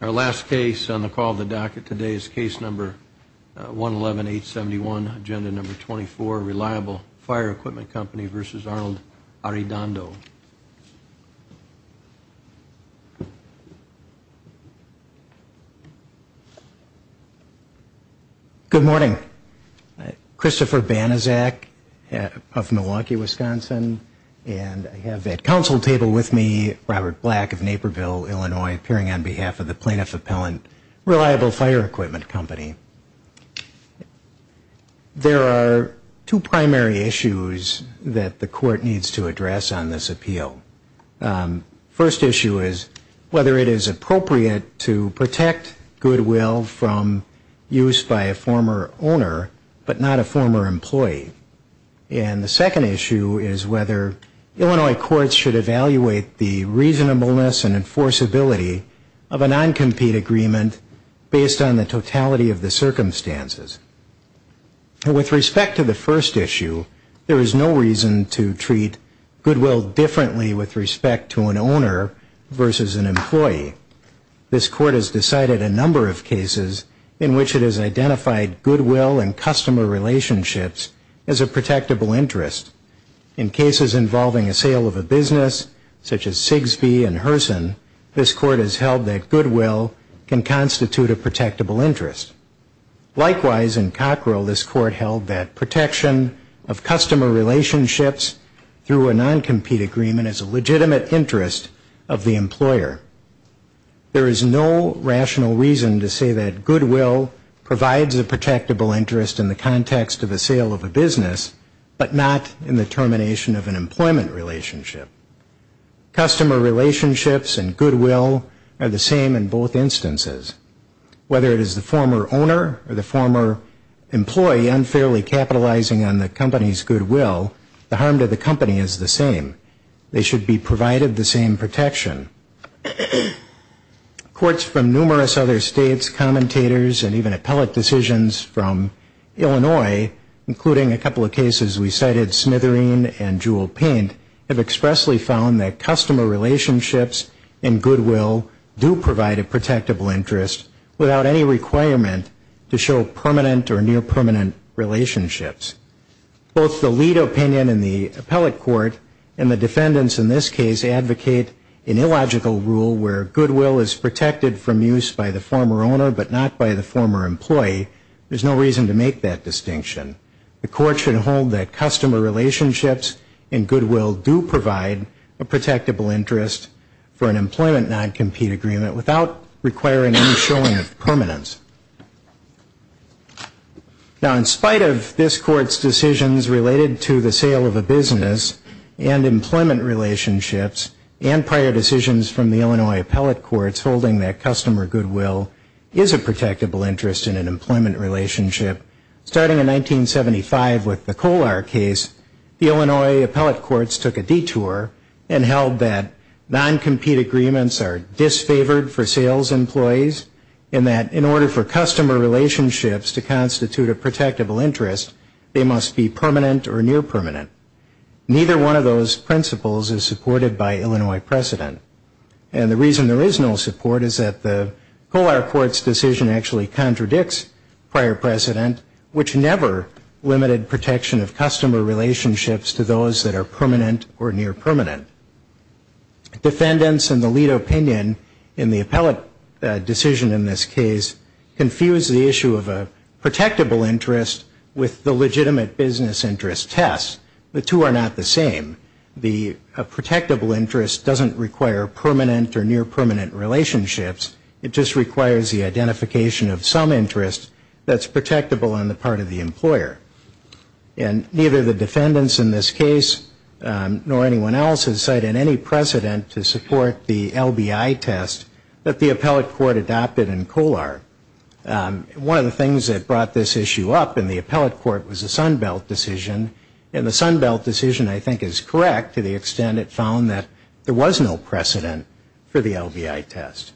Our last case on the call of the docket today is case number 111-871, agenda number 24, Reliable Fire Equipment Company v. Arnold Arredondo. Good morning. Christopher Banizak of Milwaukee, Wisconsin, and I have at council table with me Robert Black of Naperville, Illinois. I'm appearing on behalf of the Plaintiff Appellant Reliable Fire Equipment Company. There are two primary issues that the court needs to address on this appeal. First issue is whether it is appropriate to protect goodwill from use by a former owner, but not a former employee. And the second issue is whether Illinois courts should evaluate the reasonableness and enforceability of the non-compete agreement based on the totality of the circumstances. With respect to the first issue, there is no reason to treat goodwill differently with respect to an owner versus an employee. This court has decided a number of cases in which it has identified goodwill and customer relationships as a protectable interest. In cases involving a sale of a business, such as Sigsbee and Herson, this court has held that goodwill is a protectable interest. Likewise, in Cockrell, this court held that protection of customer relationships through a non-compete agreement is a legitimate interest of the employer. There is no rational reason to say that goodwill provides a protectable interest in the context of a sale of a business, but not in the termination of an employment relationship. Customer relationships and goodwill are the same in both instances. Whether it is the former owner or the former employee unfairly capitalizing on the company's goodwill, the harm to the company is the same. They should be provided the same protection. Courts from numerous other states, commentators and even appellate decisions from Illinois, including a couple of cases we cited, Smithereen and Jewel Paint, have expressly found that customer relationships and goodwill do provide a protectable interest without any requirement to show permanent or near-permanent relationships. Both the lead opinion in the appellate court and the defendants in this case advocate an illogical rule where goodwill is protected from use by the former owner, but not by the former employee. There is no reason to make that distinction. The court should hold that customer relationships and goodwill do provide a protectable interest for an employment non-compete agreement without requiring any showing of permanence. Now, in spite of this Court's decisions related to the sale of a business and employment relationships, and prior decisions from the Illinois appellate courts holding that customer goodwill is a protectable interest in an employment relationship, starting in 1975 with the Kolar case, the Illinois appellate courts took a detour and held that non-compete agreements are disfavored for sales employees, and that in order for customer relationships to constitute a protectable interest, they must be permanent or near-permanent. Neither one of those principles is supported by Illinois precedent. And the reason there is no support is that the Kolar court's decision actually contradicts prior precedent, and that the Kolar court's decision actually contradicts prior precedent, which never limited protection of customer relationships to those that are permanent or near-permanent. Defendants in the lead opinion in the appellate decision in this case, confuse the issue of a protectable interest with the legitimate business interest test. The two are not the same. The protectable interest doesn't require permanent or near-permanent relationships, it just requires the identification of some interest that's protectable and on the part of the employer. And neither the defendants in this case nor anyone else has cited any precedent to support the LBI test that the appellate court adopted in Kolar. One of the things that brought this issue up in the appellate court was the Sunbelt decision, and the Sunbelt decision I think is correct to the extent it found that there was no precedent for the LBI test.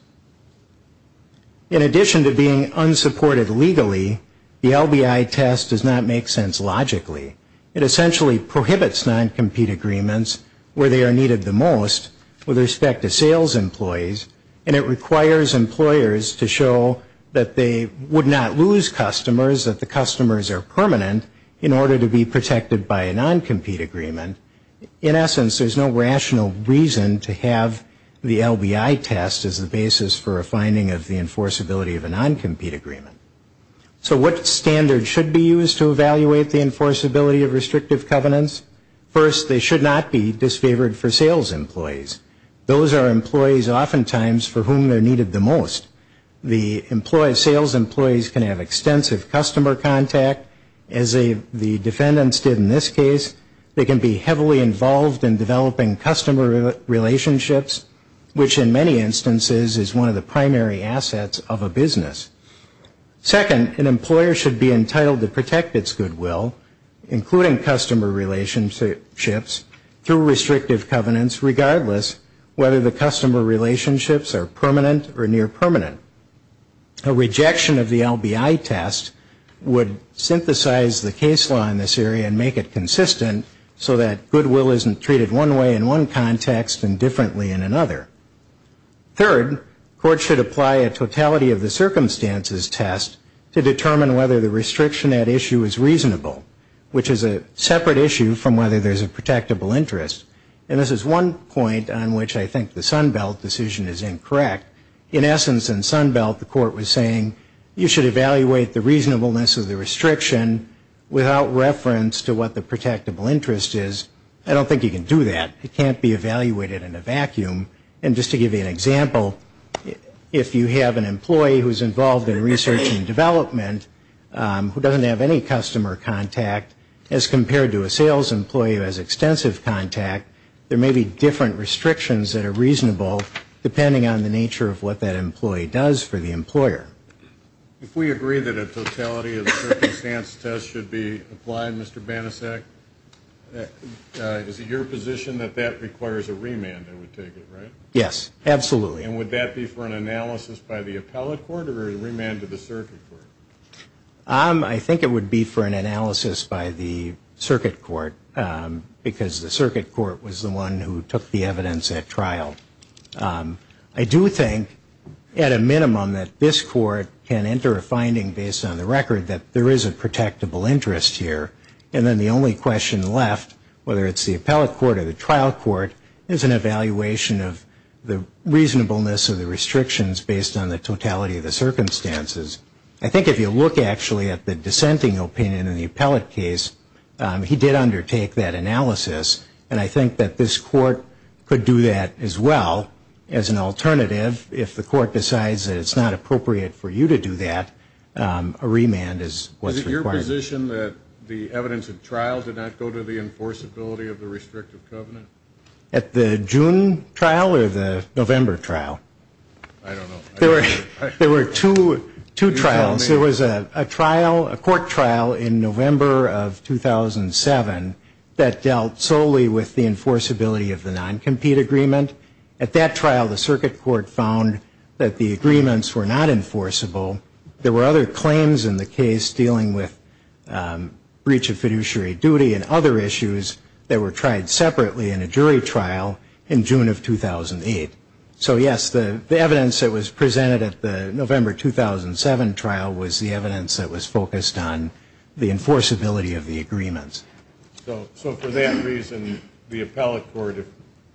In addition to being unsupported legally, the LBI test does not make sense logically. It essentially prohibits non-compete agreements where they are needed the most with respect to sales employees, and it requires employers to show that they would not lose customers, that the customers are permanent, in order to be protected by a non-compete agreement. In essence, there's no rational reason to have the LBI test as the basis for a finding of the enforceability of a non-compete agreement. So what standard should be used to evaluate the enforceability of restrictive covenants? First, they should not be disfavored for sales employees. Those are employees oftentimes for whom they're needed the most. The employees, sales employees can have extensive customer contact, as the defendants did in this case. They can be heavily involved in developing contracts and customer relationships, which in many instances is one of the primary assets of a business. Second, an employer should be entitled to protect its goodwill, including customer relationships, through restrictive covenants, regardless whether the customer relationships are permanent or near permanent. A rejection of the LBI test would synthesize the case law in this area and make it consistent so that goodwill isn't treated one way in one context and differently in another. Third, courts should apply a totality of the circumstances test to determine whether the restriction at issue is reasonable, which is a separate issue from whether there's a protectable interest. And this is one point on which I think the Sunbelt decision is incorrect. In essence, in Sunbelt, the court was saying, you should evaluate the reasonableness of the restriction without reference to whether the restriction is reasonable, as to what the protectable interest is. I don't think you can do that. It can't be evaluated in a vacuum. And just to give you an example, if you have an employee who's involved in research and development who doesn't have any customer contact, as compared to a sales employee who has extensive contact, there may be different restrictions that are reasonable, depending on the nature of what that employee does for the employer. If we agree that a totality of the circumstance test should be applied, Mr. Banasack, is it your position that that requires a remand, I would take it, right? Yes, absolutely. And would that be for an analysis by the appellate court or a remand to the circuit court? I think it would be for an analysis by the circuit court, because the circuit court was the one who took the evidence at trial. I do think, at a minimum, that this court can enter a finding based on the record that there is a protectable interest here. And then the only question left, whether it's the appellate court or the trial court, is an evaluation of the reasonableness of the circumstances. I think if you look, actually, at the dissenting opinion in the appellate case, he did undertake that analysis, and I think that this court could do that as well. As an alternative, if the court decides that it's not appropriate for you to do that, a remand is what's required. Is it your position that the evidence at trial did not go to the enforceability of the restrictive covenant? At the June trial or the November trial? I don't know. There were two trials. There was a trial, a court trial in November of 2007 that dealt solely with the enforceability of the non-compete agreement. At that trial, the circuit court found that the agreements were not enforceable. There were other claims in the case dealing with breach of fiduciary duty and other issues that were tried separately in a jury trial in June of 2008. So, yes, the evidence that was presented at the November 2007 trial was the evidence that was focused on the enforceability of the agreements. So for that reason, the appellate court,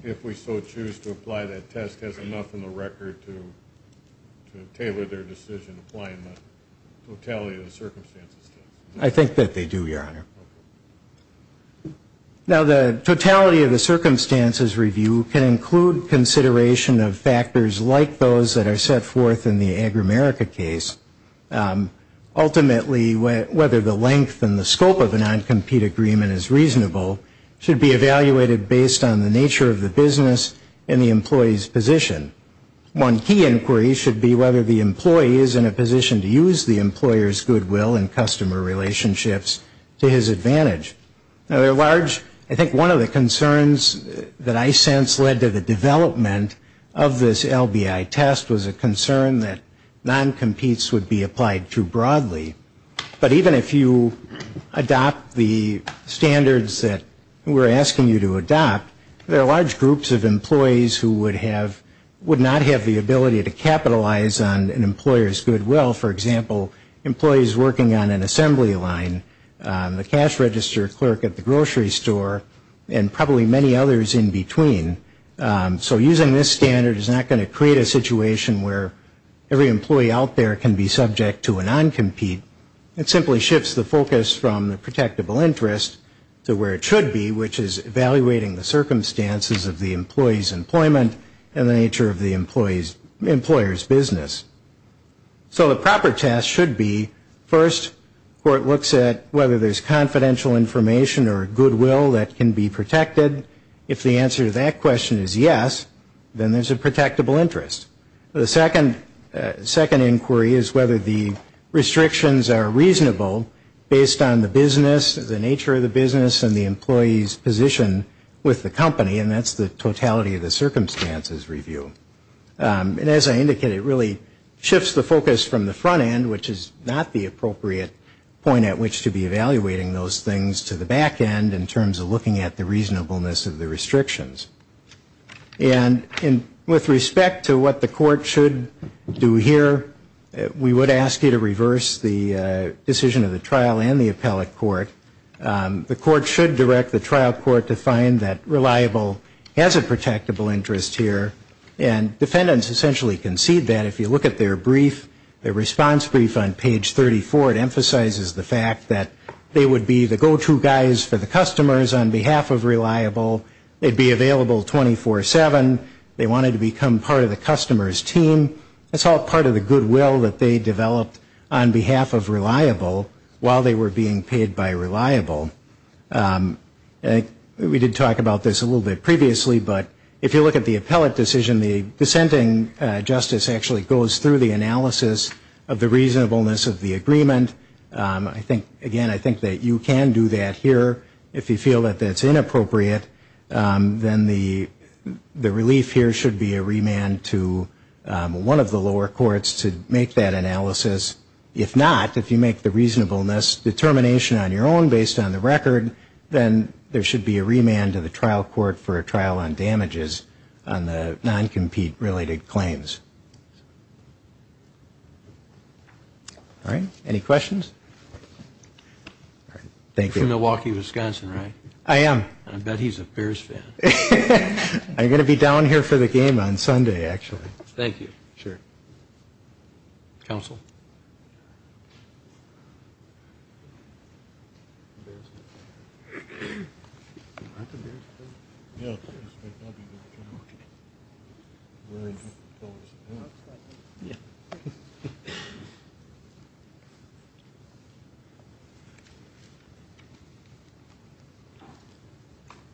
if we so choose to apply that test, has enough in the record to tailor their decision applying the totality of the circumstances test? I think that they do, Your Honor. Now, the totality of the circumstances review can include consideration of factors like those that are set forth in the Agri-America case. Ultimately, whether the length and the scope of a non-compete agreement is reasonable should be evaluated based on the nature of the business and the employee's position. One key inquiry should be whether the employee is in a position to use the employer's goodwill and customer relationships to his advantage. Now, there are large, I think one of the concerns that I sense led to the development of this LBI test was a concern that non-competes would be applied too broadly. But even if you adopt the standards that we're asking you to adopt, there are large groups of employees who would have, would not have the ability to capitalize on an employer's goodwill. For example, employees working on an assembly line, the cash register clerk at the grocery store, and probably many others in between. So using this standard is not going to create a situation where every employee out there can be subject to a non-compete. It simply shifts the focus from the protectable interest to where it should be, which is evaluating the circumstances of the employee's employment and the nature of the employer's business. So the proper test should be, first, where it looks at whether there's confidential information or goodwill that can be protected. If the answer to that question is yes, then there's a protectable interest. The second inquiry is whether the restrictions are reasonable based on the business, the nature of the business, and the employee's position with the company, and that's the totality of the circumstances review. It shifts the focus from the front end, which is not the appropriate point at which to be evaluating those things, to the back end in terms of looking at the reasonableness of the restrictions. And with respect to what the court should do here, we would ask you to reverse the decision of the trial and the appellate court. The court should direct the trial court to find that reliable has a protectable interest here, and defendants essentially concede that. If you look at their brief, their response brief on page 34, it emphasizes the fact that they would be the go-to guys for the customers on behalf of reliable. They'd be available 24-7. They wanted to become part of the customer's team. It's all part of the goodwill that they developed on behalf of reliable while they were being paid by reliable. We did talk about this a little bit previously, but if you look at the appellate decision, the dissenting justice actually goes through the analysis of the reasonableness of the agreement. Again, I think that you can do that here. If you feel that that's inappropriate, then the relief here should be a remand to one of the lower courts to make that analysis. If not, if you make the reasonableness determination on your own based on the record, then there should be a remand to the trial court for a trial on damages on the non-compete related claims. All right, any questions? Thank you. I'm from Milwaukee, Wisconsin, right? I am. I bet he's a Bears fan. I'm going to be down here for the game on Sunday, actually.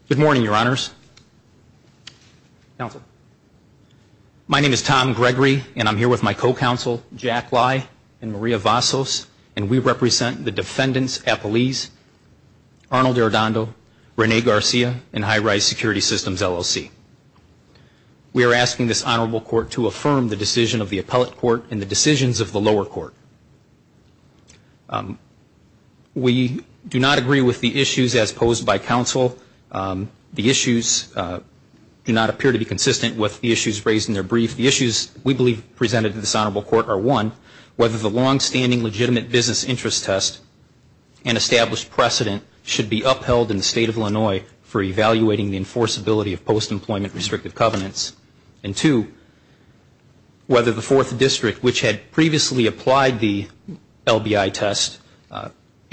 Good morning, Your Honors. My name is Tom Gregory, and I'm here with my co-counsel, Jack Lye and Maria Vasos, and we represent the defendants' appellees, Arnold Arradondo, Rene Garcia, and High-Rise Security Systems, LLC. We are asking this honorable court to affirm the decision of the appellate court and the decisions of the lower court. We do not agree with the issues as posed by counsel. The issues do not appear to be consistent with the issues raised in their brief. The issues we believe presented to this honorable court are, one, whether the long-standing legitimate business interest test and established precedent should be upheld in the State of Illinois for evaluating the enforceability of post-employment restrictive covenants, and, two, whether the Fourth District, which had previously applied to the State of Illinois, should be upheld. The Court has denied the LBI test,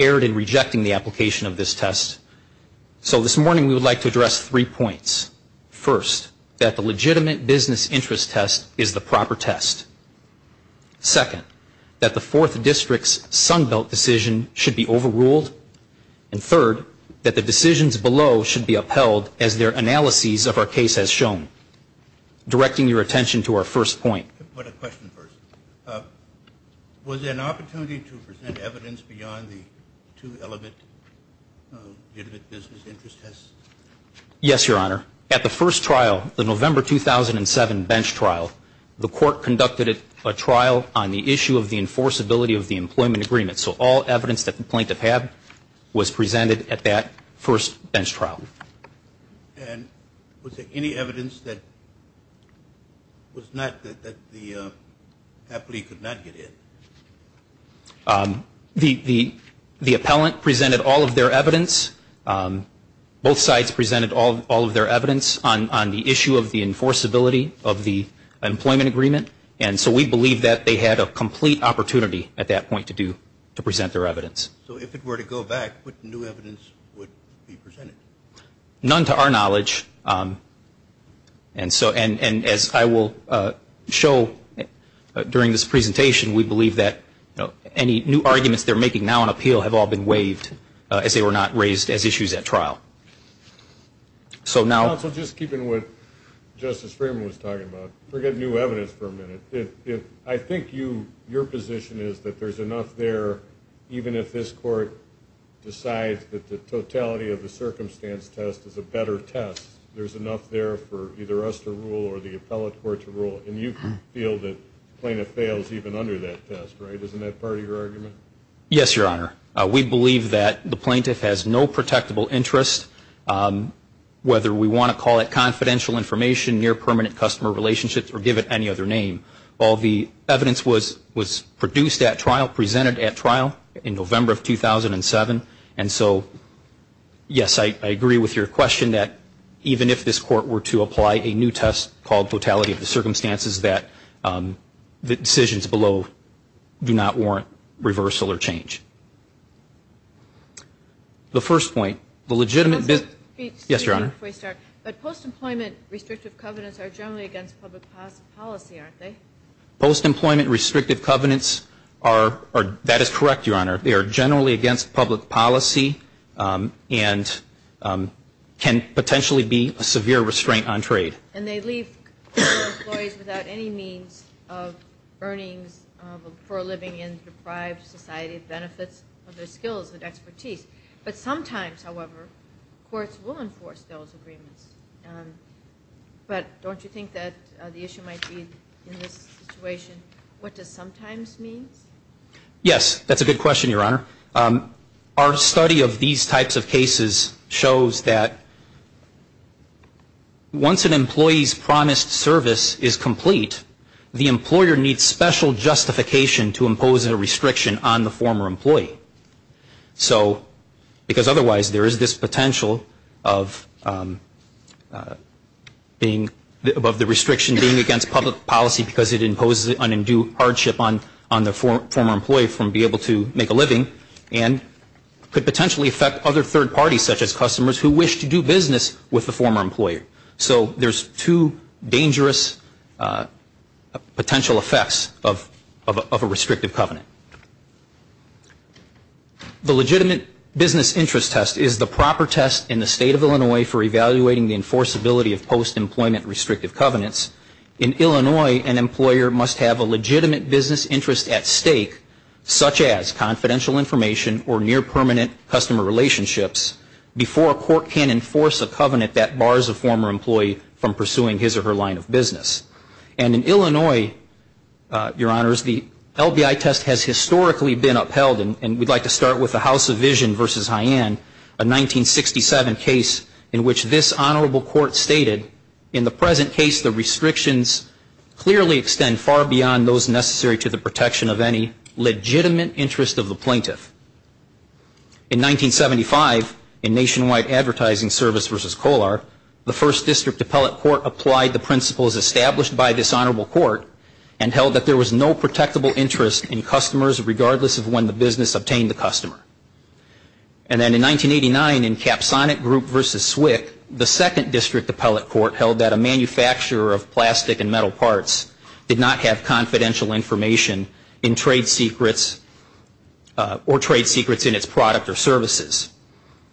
erred in rejecting the application of this test, so this morning we would like to address three points. First, that the legitimate business interest test is the proper test. Second, that the Fourth District's Sunbelt decision should be overruled. And third, that the decisions below should be upheld as their analyses of our case has shown. Directing your attention to our first point. Was there an opportunity to present evidence beyond the two-element legitimate business interest test? Yes, Your Honor. At the first trial, the November 2007 bench trial, the Court conducted a trial on the issue of the enforceability of the employment agreement, so all evidence that the plaintiff had was presented at that first bench trial. And was there any evidence that the appellee could not get in? The appellant presented all of their evidence, both sides presented all of their evidence on the issue of the enforceability of the employment agreement, and so we believe that they had a complete opportunity at that point to present their evidence. So if it were to go back, what new evidence would be presented? None to our knowledge, and as I will show during this presentation, we believe that any new arguments they're making now on appeal have all been waived as they were not raised as issues at trial. Counsel, just keeping with what Justice Freeman was talking about, forget new evidence for a minute. I think your position is that there's enough there, even if this Court decides that the totality of the circumstance test is a better test, there's enough there for either us to rule or the appellate court to rule. And you feel that the plaintiff fails even under that test, right? Isn't that part of your argument? Yes, Your Honor. We believe that the plaintiff has no protectable interest, whether we want to call it confidential information, near-permanent customer relationships, or give it any other name. All the evidence was produced at trial, presented at trial, in November of 2007. And so, yes, I agree with your question that even if this Court were to apply a new test called totality of the circumstances, that the decisions below do not warrant reversal or change. The first point, the legitimate... Yes, Your Honor. But post-employment restrictive covenants are generally against public policy, aren't they? Post-employment restrictive covenants are, that is correct, Your Honor. They are generally against public policy and can potentially be a severe restraint on trade. And they leave employees without any means of earnings for a living in deprived society, benefits of their skills and expertise. But sometimes, however, courts will enforce those agreements. But don't you think that the issue might be, in this situation, what does sometimes mean? Yes, that's a good question, Your Honor. Our study of these types of cases shows that once an employee's promised service is complete, the employer needs special justification to impose a restriction on the former employee. So, because otherwise there is this potential of being, above the restriction being against public policy because it imposes an undue hardship on the former employee from being able to make a living and could potentially affect other third parties such as customers who wish to do business with the former employer. So there's two dangerous potential effects of a restrictive covenant. The legitimate business interest test is the proper test in the State of Illinois for evaluating the enforceability of post-employment restrictive covenants. In Illinois, an employer must have a legitimate business interest at stake, such as confidential information or near-permanent customer relationships, before a court can enforce a covenant that bars a former employee from pursuing his or her line of business. And in Illinois, Your Honors, the LBI test has historically been upheld. I would like to start with the House of Vision v. Hyann, a 1967 case in which this Honorable Court stated, in the present case, the restrictions clearly extend far beyond those necessary to the protection of any legitimate interest of the plaintiff. In 1975, in Nationwide Advertising Service v. Kolar, the First District Appellate Court applied the principles established by this Honorable Court and held that there was no protectable interest in customers regardless of when the business obtained the customer. And then in 1989, in Capsonic Group v. Swick, the Second District Appellate Court held that a manufacturer of plastic and metal parts did not have confidential information in trade secrets or trade secrets in its product or services.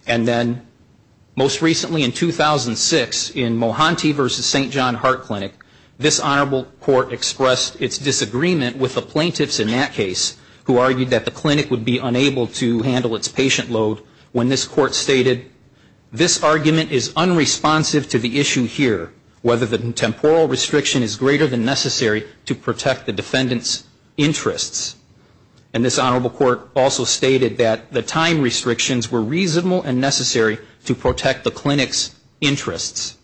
And then, most recently in 2006, in Mohanty v. St. John Heart Clinic, this Honorable Court accepted the test. It expressed its disagreement with the plaintiffs in that case who argued that the clinic would be unable to handle its patient load when this Court stated, this argument is unresponsive to the issue here, whether the temporal restriction is greater than necessary to protect the defendant's interests. And this Honorable Court also stated that the time restrictions were reasonable and necessary to protect the clinic's interests.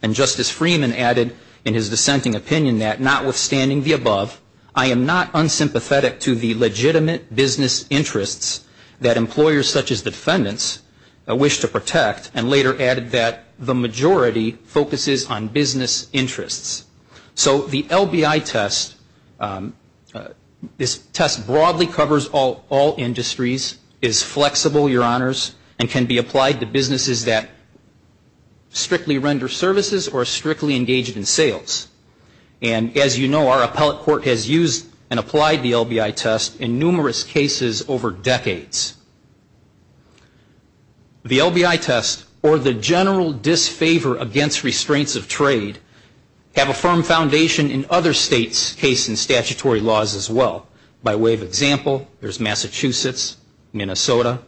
And Justice Freeman added in his dissenting opinion that, notwithstanding the above, I am not unsympathetic to the legitimate business interests that employers such as the defendants wish to protect, and later added that the majority focuses on business interests. So the LBI test, this test broadly covers all industries, is flexible, Your Honors, and can be applied to businesses that strictly render services or are strictly engaged in sales. And as you know, our appellate court has used and applied the LBI test in numerous cases over decades. The LBI test, or the general disfavor against restraints of trade, have a firm foundation in other states' case and statutory laws as well. By way of example, there's Massachusetts, Minnesota,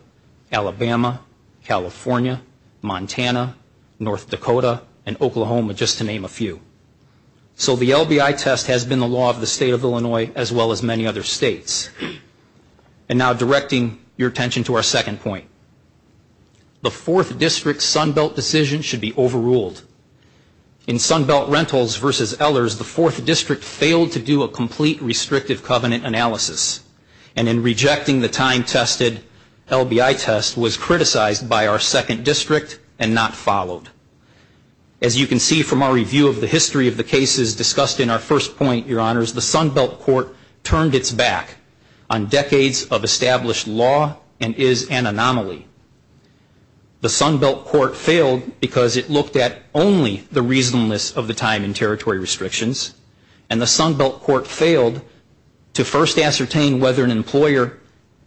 Alabama, California, Montana, North Dakota, and Oklahoma, just to name a few. So the LBI test has been the law of the State of Illinois as well as many other states. And now directing your attention to our second point. The Fourth District Sunbelt decision should be overruled. In Sunbelt Rentals v. Ehlers, the Fourth District failed to do a complete restrictive covenant analysis, and in rejecting the time-tested LBI test was criticized by our Second District and not followed. As you can see from our review of the history of the cases discussed in our first point, Your Honors, the Sunbelt Court turned its back on decades of established law and is an anomaly. The Sunbelt Court failed because it looked at only the reasonableness of the time and territory restrictions, and the Sunbelt Court failed to first ascertain whether an employer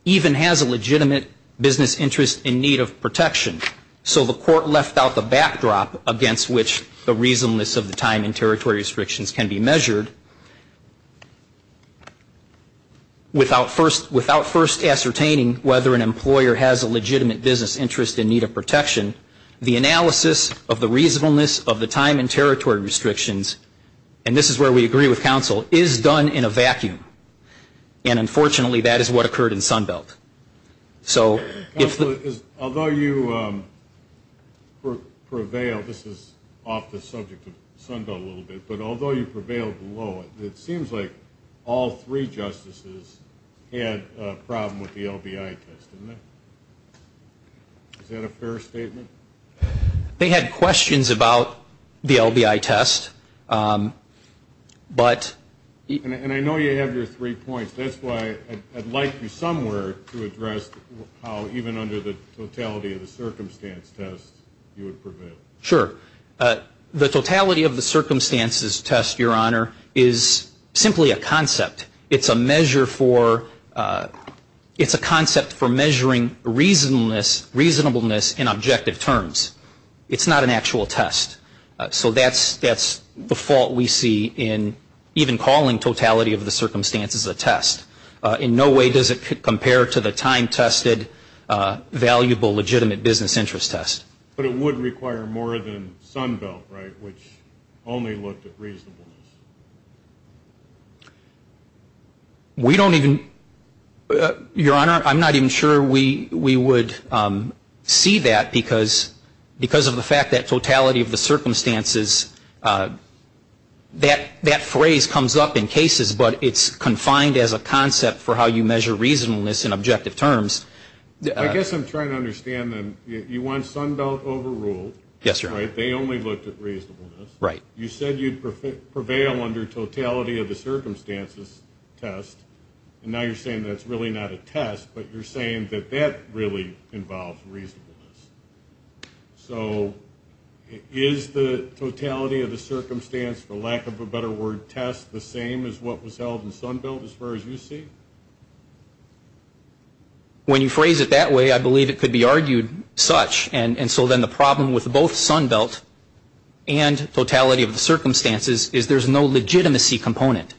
even has a legitimate business interest in need of protection. So the Court left out the backdrop against which the reasonableness of the time and territory restrictions can be measured, without first ascertaining whether an employer has a legitimate business interest in need of protection. The analysis of the reasonableness of the time and territory restrictions, and this is where we agree with counsel, is done in a vacuum. And unfortunately, that is what occurred in Sunbelt. So if the... Counsel, although you prevailed, this is off the subject of Sunbelt a little bit, but although you prevailed below it, it seems like all three justices had a problem with the LBI test. Is that a fair statement? They had questions about the LBI test, but... And I know you have your three points, that's why I'd like you somewhere to address how even under the totality of the circumstance test you would prevail. Sure. The totality of the circumstances test, Your Honor, is simply a concept. It's a measure for... It's not an actual test. So that's the fault we see in even calling totality of the circumstances a test. In no way does it compare to the time-tested, valuable, legitimate business interest test. But it would require more than Sunbelt, right, which only looked at reasonableness. We don't even... Because of the fact that totality of the circumstances, that phrase comes up in cases, but it's confined as a concept for how you measure reasonableness in objective terms. I guess I'm trying to understand then, you want Sunbelt overruled. They only looked at reasonableness. You said you'd prevail under totality of the circumstances test, and now you're saying that's really not a test, but you're saying that that really involves reasonableness. So is the totality of the circumstance, for lack of a better word, test, the same as what was held in Sunbelt as far as you see? When you phrase it that way, I believe it could be argued such. And so then the problem with both Sunbelt and totality of the circumstances is there's no legitimacy component.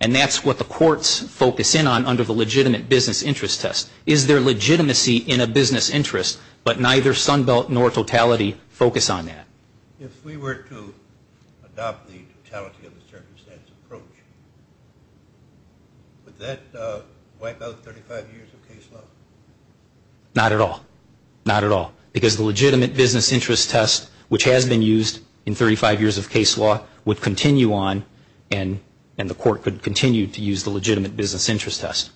And that's what the courts focus in on under the legitimate business interest test. Is there legitimacy in a business interest, but neither Sunbelt nor totality focus on that? If we were to adopt the totality of the circumstance approach, would that wipe out 35 years of case law? Not at all. Not at all. Because the legitimate business interest test, which has been used in 35 years of case law, would continue on and the court could continue to use the legitimate business interest test.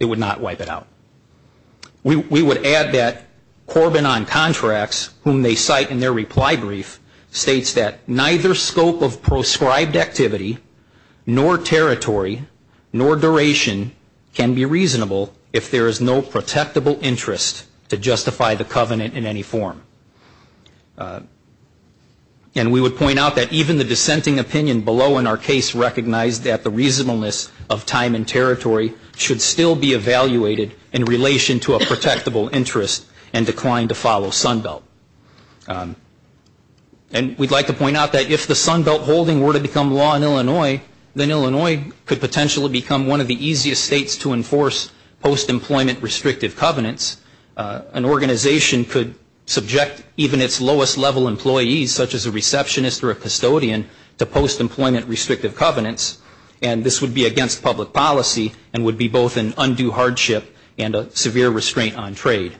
It would not wipe it out. We would add that Corbin on contracts, whom they cite in their reply brief, states that neither scope of proscribed activity nor territory nor duration can be reasonable if there is no protectable interest to justify the covenant in any form. And we would point out that even the dissenting opinion below in our case recognized that the reasonableness of time and territory should still be evaluated in relation to a protectable interest and decline to follow Sunbelt. And we'd like to point out that if the Sunbelt holding were to become law in Illinois, then Illinois could potentially become one of the easiest states to enforce post-employment restrictive covenants. An organization could subject even its lowest level employees, such as a receptionist or a custodian, to post-employment restrictive covenants. And this would be against public policy and would be both an undue hardship and a severe restraint on trade.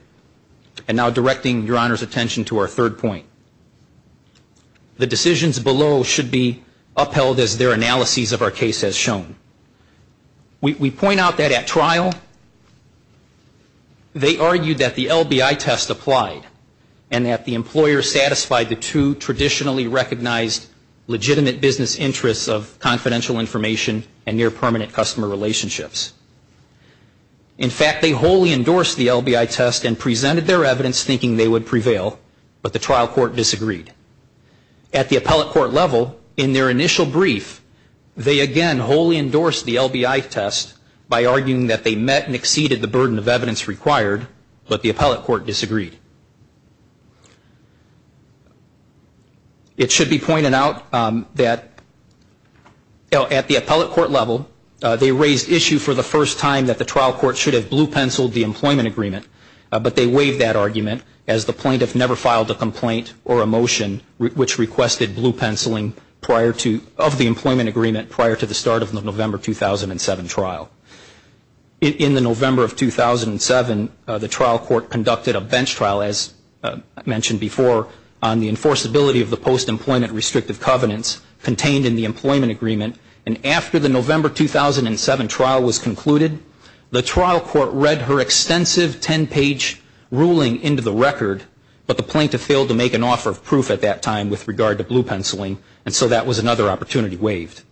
And now directing Your Honor's attention to our third point. The decisions below should be upheld as their analyses of our case has shown. We point out that at trial, they argued that the LBI test applied and that the employer satisfied the two traditionally recognized legitimate business interests of confidential information and near-permanent customer relationships. In fact, they wholly endorsed the LBI test and presented their evidence thinking they would prevail, but the trial court disagreed. At the appellate court level, in their initial brief, they again wholly endorsed the LBI test by arguing that they met and exceeded the burden of evidence required, but the appellate court disagreed. It should be pointed out that at the appellate court level, they raised issue for the first time that the trial court should have blue-penciled the employment agreement, but they waived that argument as the plaintiff never filed a complaint or a motion which requested blue-penciling prior to, of the employment agreement prior to the start of the November 2007 trial. In the November of 2007, the trial court conducted a bench trial, as mentioned before, on the enforceability of the post-employment restrictive covenants contained in the employment agreement. And after the November 2007 trial was concluded, the trial court read her extensive 10-page ruling into the record, but the plaintiff failed to make an offer of proof at that time with regard to blue-penciling, and so that was another opportunity waived.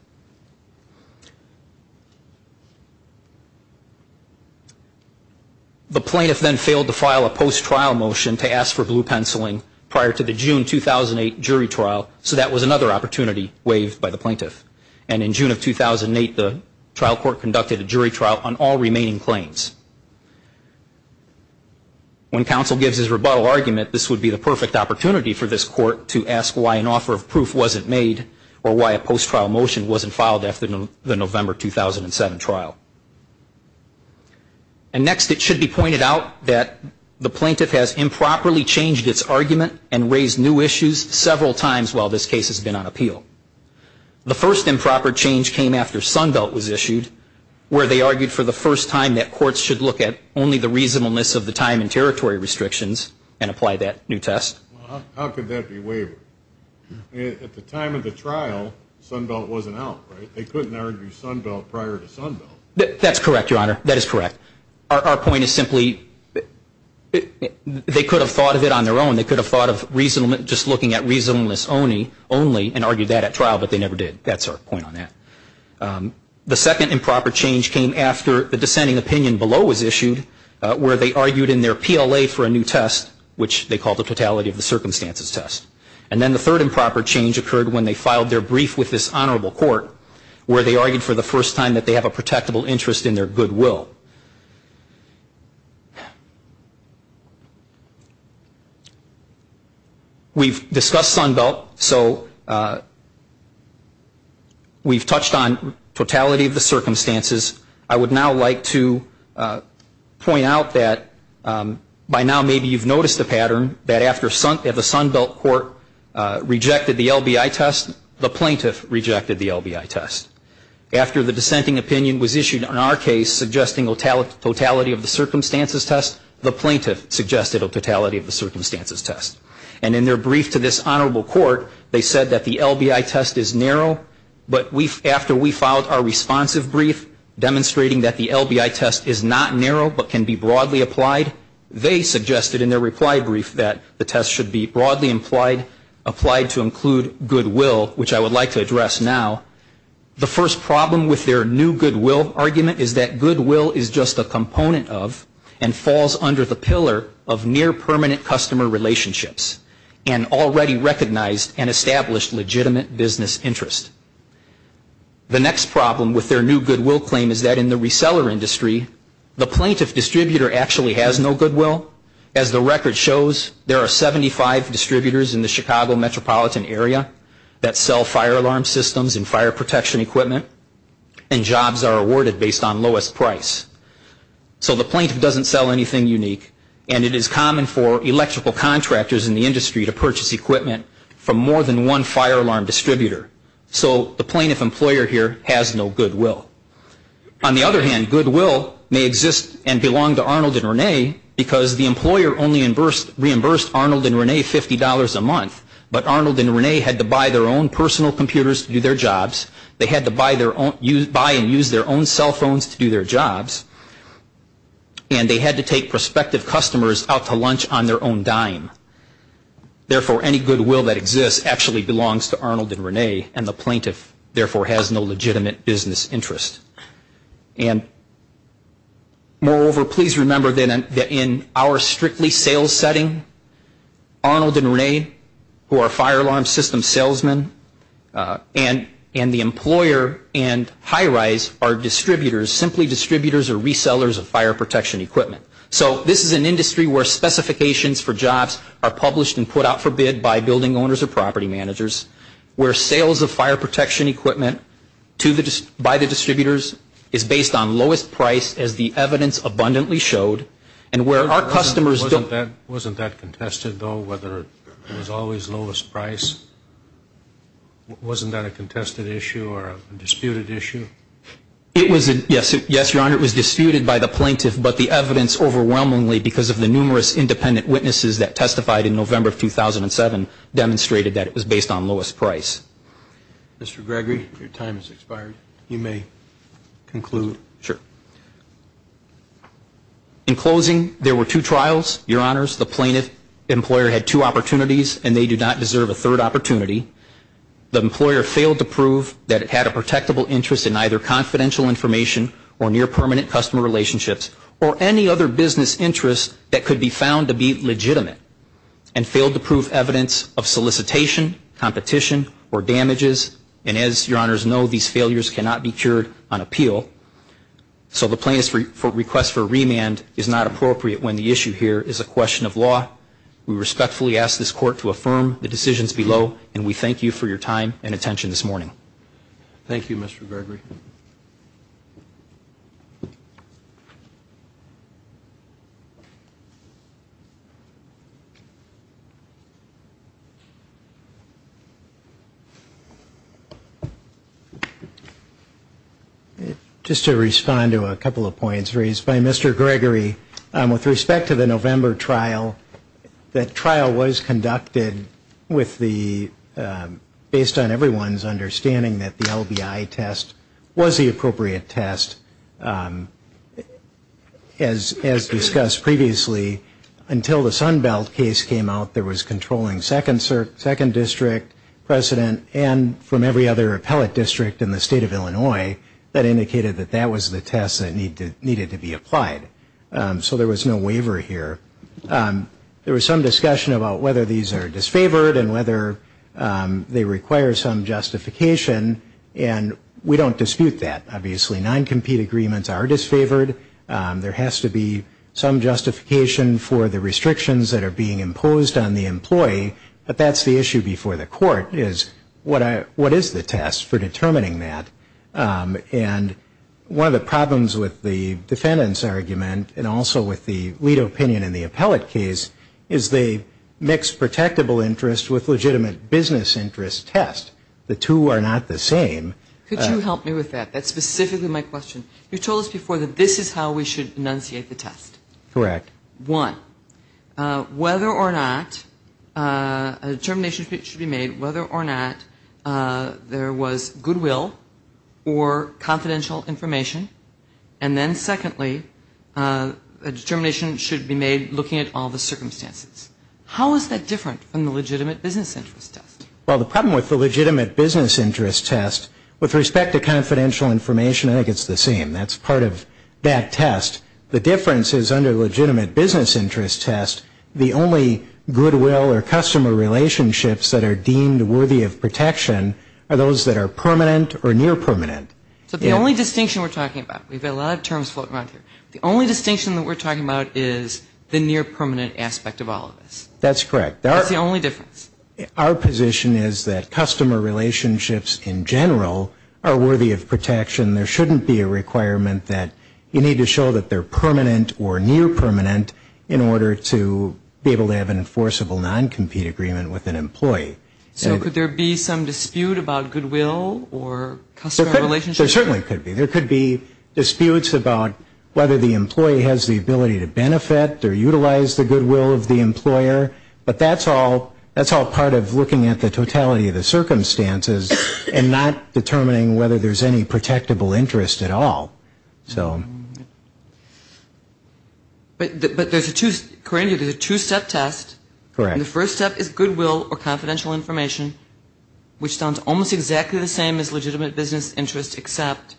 The plaintiff then failed to file a post-trial motion to ask for blue-penciling prior to the June 2008 jury trial, so that was another opportunity waived by the plaintiff. And in June of 2008, the trial court conducted a jury trial on all remaining claims. When counsel gives his rebuttal argument, this would be the perfect opportunity for this court to ask why an offer of proof wasn't made or why a post-trial motion wasn't filed after the November 2007 trial. And next, it should be pointed out that the plaintiff has improperly changed its argument and raised new issues several times while this case has been on appeal. The first improper change came after Sunbelt was issued, where they argued for the first time that courts should look at only the reasonableness of the time and territory restrictions and apply that new test. How could that be waived? At the time of the trial, Sunbelt wasn't out, right? They couldn't argue Sunbelt prior to Sunbelt. That's correct, Your Honor. That is correct. They could have thought of it on their own. They could have thought of just looking at reasonableness only and argued that at trial, but they never did. That's our point on that. The second improper change came after the dissenting opinion below was issued, where they argued in their PLA for a new test, which they called the totality of the circumstances test. And then the third improper change occurred when they filed their brief with this honorable court, where they argued for the first time that they have a protectable interest in their goodwill. We've discussed Sunbelt, so we've touched on totality of the circumstances. I would now like to point out that by now, maybe you've noticed a pattern that after the Sunbelt court rejected the LBI test, the plaintiff rejected the LBI test. After the dissenting opinion was issued on our case suggesting totality of the circumstances test, the plaintiff suggested a totality of the circumstances test. And in their brief to this honorable court, they said that the LBI test is narrow, but after we filed our responsive brief demonstrating that the LBI test is not narrow, but can be broadly applied, they suggested in their reply brief that the test should be broadly implied, applied to include goodwill, which I would like to address now. The first problem with their new goodwill argument is that goodwill is just a component of and falls under the pillar of near permanent customer relationships and already recognized and established legitimate business interest. The next problem with their new goodwill claim is that in the reseller industry, the plaintiff distributor actually has no goodwill. As the record shows, there are 75 distributors in the Chicago metropolitan area that sell fire alarm systems and fire protection equipment, and jobs are awarded based on lowest price. So the plaintiff doesn't sell anything unique, and it is common for electrical contractors in the industry to purchase equipment from more than one fire alarm distributor. So the plaintiff employer here has no goodwill. On the other hand, goodwill may exist and belong to Arnold and Renee, because the employer only reimbursed Arnold and Renee $50 a month, but Arnold and Renee had to buy their own personal computers to do their jobs. They had to buy and use their own cell phones to do their jobs, and they had to take prospective customers out to lunch on their own dime. Therefore, any goodwill that exists actually belongs to Arnold and Renee, and the plaintiff, therefore, has no legitimate business interest. And moreover, please remember that in our strictly sales setting, Arnold and Renee, who are fire alarm system salesmen, and the employer and HiRISE are distributors, simply distributors or resellers of fire protection equipment. So this is an industry where specifications for jobs are published and put out for bid by building owners or property managers, where sales of fire protection equipment by the distributors is based on lowest price, as the evidence abundantly showed, and where our customers don't... Wasn't that contested, though, whether it was always lowest price? Wasn't that a contested issue or a disputed issue? Yes, Your Honor, it was disputed by the plaintiff, but the evidence overwhelmingly, because of the numerous independent witnesses that testified in November of 2007, demonstrated that it was based on lowest price. Mr. Gregory, your time has expired. You may conclude. Sure. In closing, there were two trials, Your Honors. The plaintiff employer had two opportunities, and they do not deserve a third opportunity. The employer failed to prove that it had a protectable interest in either confidential information or near permanent customer relationships or any other business interest that could be found to be legitimate, and failed to prove evidence of solicitation, competition, or damages. And as Your Honors know, these failures cannot be cured on appeal. So the plaintiff's request for remand is not appropriate when the issue here is a question of law. We respectfully ask this Court to affirm the decisions below, and we thank you for your time and attention this morning. Thank you, Mr. Gregory. Just to respond to a couple of points raised by Mr. Gregory, with respect to the November trial, that trial was conducted with the based on everyone's understanding that the LBI test was the appropriate test. As discussed previously, until the Sunbelt case came out, there was controlling second district precedent, and from every other appellate district in the state of Illinois, that indicated that that was the test that needed to be applied. So there was no waiver here. There was some discussion about whether these are disfavored and whether they require some justification, and we don't dispute that, obviously. Non-compete agreements are disfavored. There has to be some justification for the restrictions that are being imposed on the employee, but that's the issue before the Court, is what is the test for determining that? And one of the problems with the defendant's argument, and also with the lead opinion in the appellate case, is they mix protectable interest with legitimate business interest test. The two are not the same. This is how we should enunciate the test. One, whether or not a determination should be made whether or not there was goodwill or confidential information, and then secondly, a determination should be made looking at all the circumstances. How is that different from the legitimate business interest test? Well, the problem with the legitimate business interest test, with respect to confidential information, I think it's the same. That's part of that test. The difference is under legitimate business interest test, the only goodwill or customer relationships that are deemed worthy of protection are those that are permanent or near permanent. So the only distinction we're talking about, we've got a lot of terms floating around here, the only distinction that we're talking about is the near permanent aspect of all of this. That's correct. That's the only difference. Our position is that customer relationships in general are worthy of protection. There shouldn't be a requirement that you need to show that they're permanent or near permanent in order to be able to have an enforceable noncompete agreement with an employee. So could there be some dispute about goodwill or customer relationships? There certainly could be. There could be disputes about whether the employee has the ability to benefit or utilize the goodwill of the employer, but that's all part of looking at the totality of the circumstances and not determining whether there's any protectable interest at all. But there's a two-step test. The first step is goodwill or confidential information, which sounds almost exactly the same as legitimate business interest, except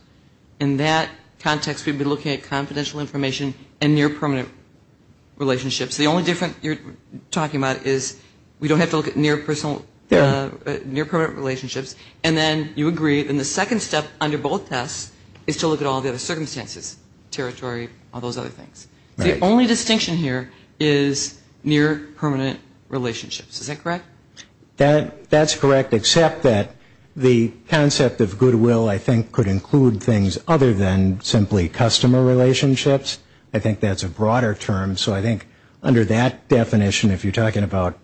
in that context we've been looking at confidential information and near permanent relationships. The only difference you're talking about is we don't have to look at near personal, near permanent relationships. And then you agree, then the second step under both tests is to look at all the other circumstances, territory, all those other things. The only distinction here is near permanent relationships. Is that correct? That's correct, except that the concept of goodwill I think could include things other than simply customer relationships. I think that's a broader term. So I think under that definition, if you're talking about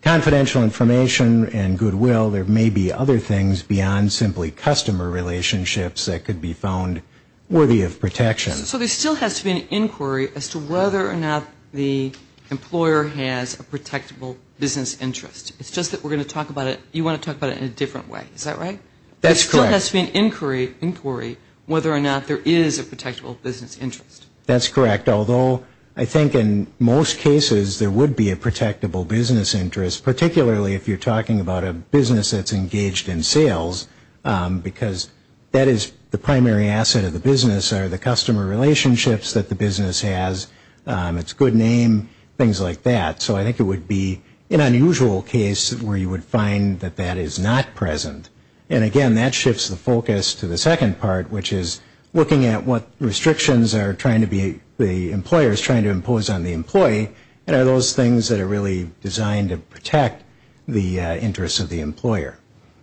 confidential information and goodwill, there may be other things beyond simply customer relationships that could be found worthy of protection. So there still has to be an inquiry as to whether or not the employer has a protectable business interest. It's just that we're going to talk about it, you want to talk about it in a different way. Is that right? That's correct. There still has to be an inquiry whether or not there is a protectable business interest. That's correct, although I think in most cases there would be a protectable business interest, particularly if you're talking about a business that's engaged in sales, because that is the primary asset of the business are the customer relationships that the business has, its good name, things like that. So I think it would be an unusual case where you would find that that is not present. And again, that shifts the focus to the second part, which is looking at what restrictions the employer is trying to impose on the employee and are those things that are really designed to protect the interests of the employer.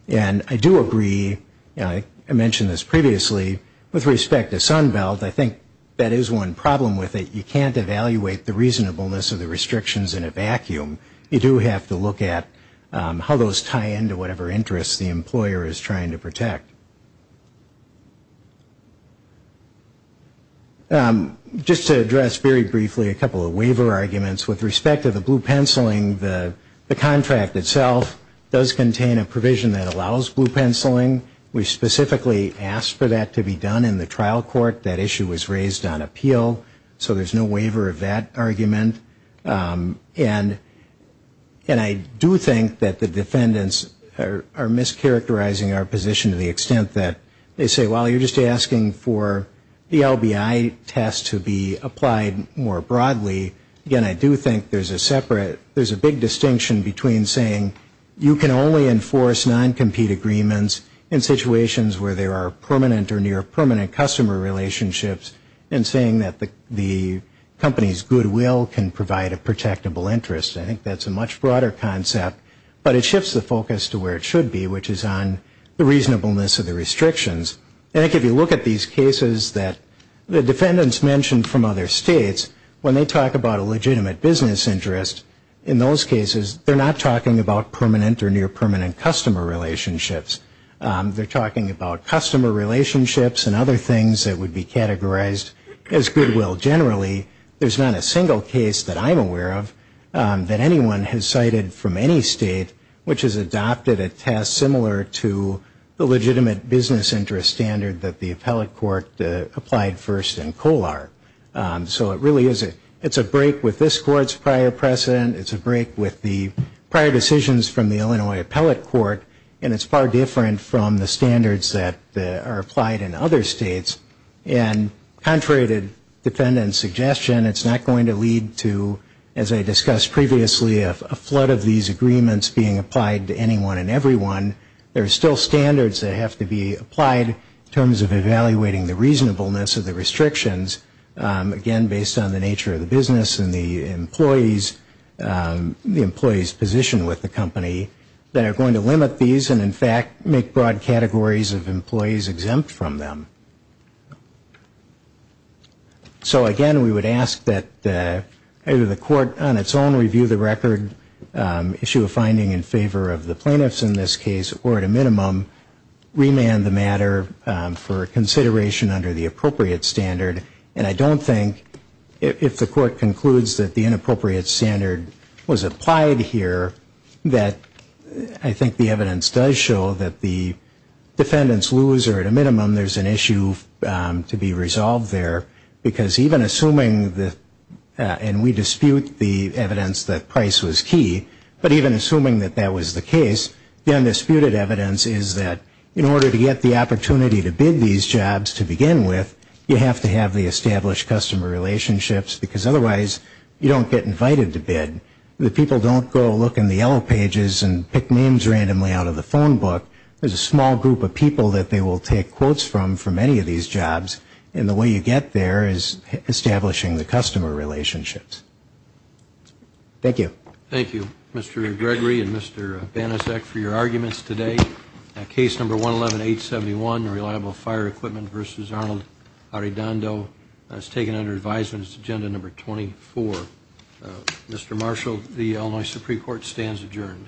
And I do agree, I mentioned this previously, with respect to Sunbelt, I think that is one problem with it, you can't evaluate the reasonableness of the restrictions in a vacuum. You do have to look at how those tie into whatever interests the employer is trying to protect. Just to address very briefly a couple of waiver arguments, with respect to the blue penciling, the contract itself does contain a provision that allows blue penciling. We specifically asked for that to be done in the trial court, that issue was raised on appeal, so there's no waiver of that argument. And I do think that the defendants are mischaracterizing our position to the extent that they say, well, you're just asking for the LBI test to be applied more broadly. Again, I do think there's a separate, there's a big distinction between saying, you can only enforce non-compete agreements in situations where there are permanent or near permanent customer relationships and saying that the company's goodwill can provide a protectable interest. I think that's a much broader concept, but it shifts the focus to where it should be, which is on the reasonableness of the restrictions. And I think if you look at these cases that the defendants mentioned from other states, when they talk about a legitimate business interest, in those cases, they're not talking about permanent or near permanent customer relationships. They're talking about customer relationships and other things that would be categorized as goodwill. Generally, there's not a single case that I'm aware of that anyone has cited from any state which has adopted a test similar to the legitimate business interest standard that the appellate court applied first in COLAR. So it really is, it's a break with this court's prior precedent, it's a break with the prior decisions from the Illinois Appellate Court, and it's far different from the standards that are applied in other states. And contrary to defendants' suggestion, it's not going to lead to, as I discussed previously, a flood of these agreements being applied to anyone and everyone. There are still standards that have to be applied in terms of evaluating the reasonableness of the restrictions, again, based on the nature of the business and the employees, the employees' position with the company, that are going to limit these and, in fact, make broad categories of employees exempt from them. So, again, we would ask that either the court on its own review the record, issue a finding in favor of the plaintiffs in this case, or, at a minimum, remand the matter for consideration under the appropriate standard. And I don't think, if the court concludes that the inappropriate standard was applied here, that I think the evidence does show that the defendants lose, or, at a minimum, there's an issue to be resolved there. Because even assuming, and we dispute the evidence that price was key, but even assuming that that was the case, the undisputed evidence is that, in order to get the opportunity to bid these jobs to begin with, you have to have the established customer relationships, because otherwise you don't get invited to bid. The people don't go look in the yellow pages and pick names randomly out of the phone book. There's a small group of people that they will take quotes from for many of these jobs, and the way you get there is establishing the customer relationships. Thank you. Thank you, Mr. Gregory and Mr. Banasek, for your arguments today. Case number 111-871, Reliable Fire Equipment v. Arnold Arredondo, is taken under advisement. It's agenda number 24. Mr. Marshall, the Illinois Supreme Court stands adjourned.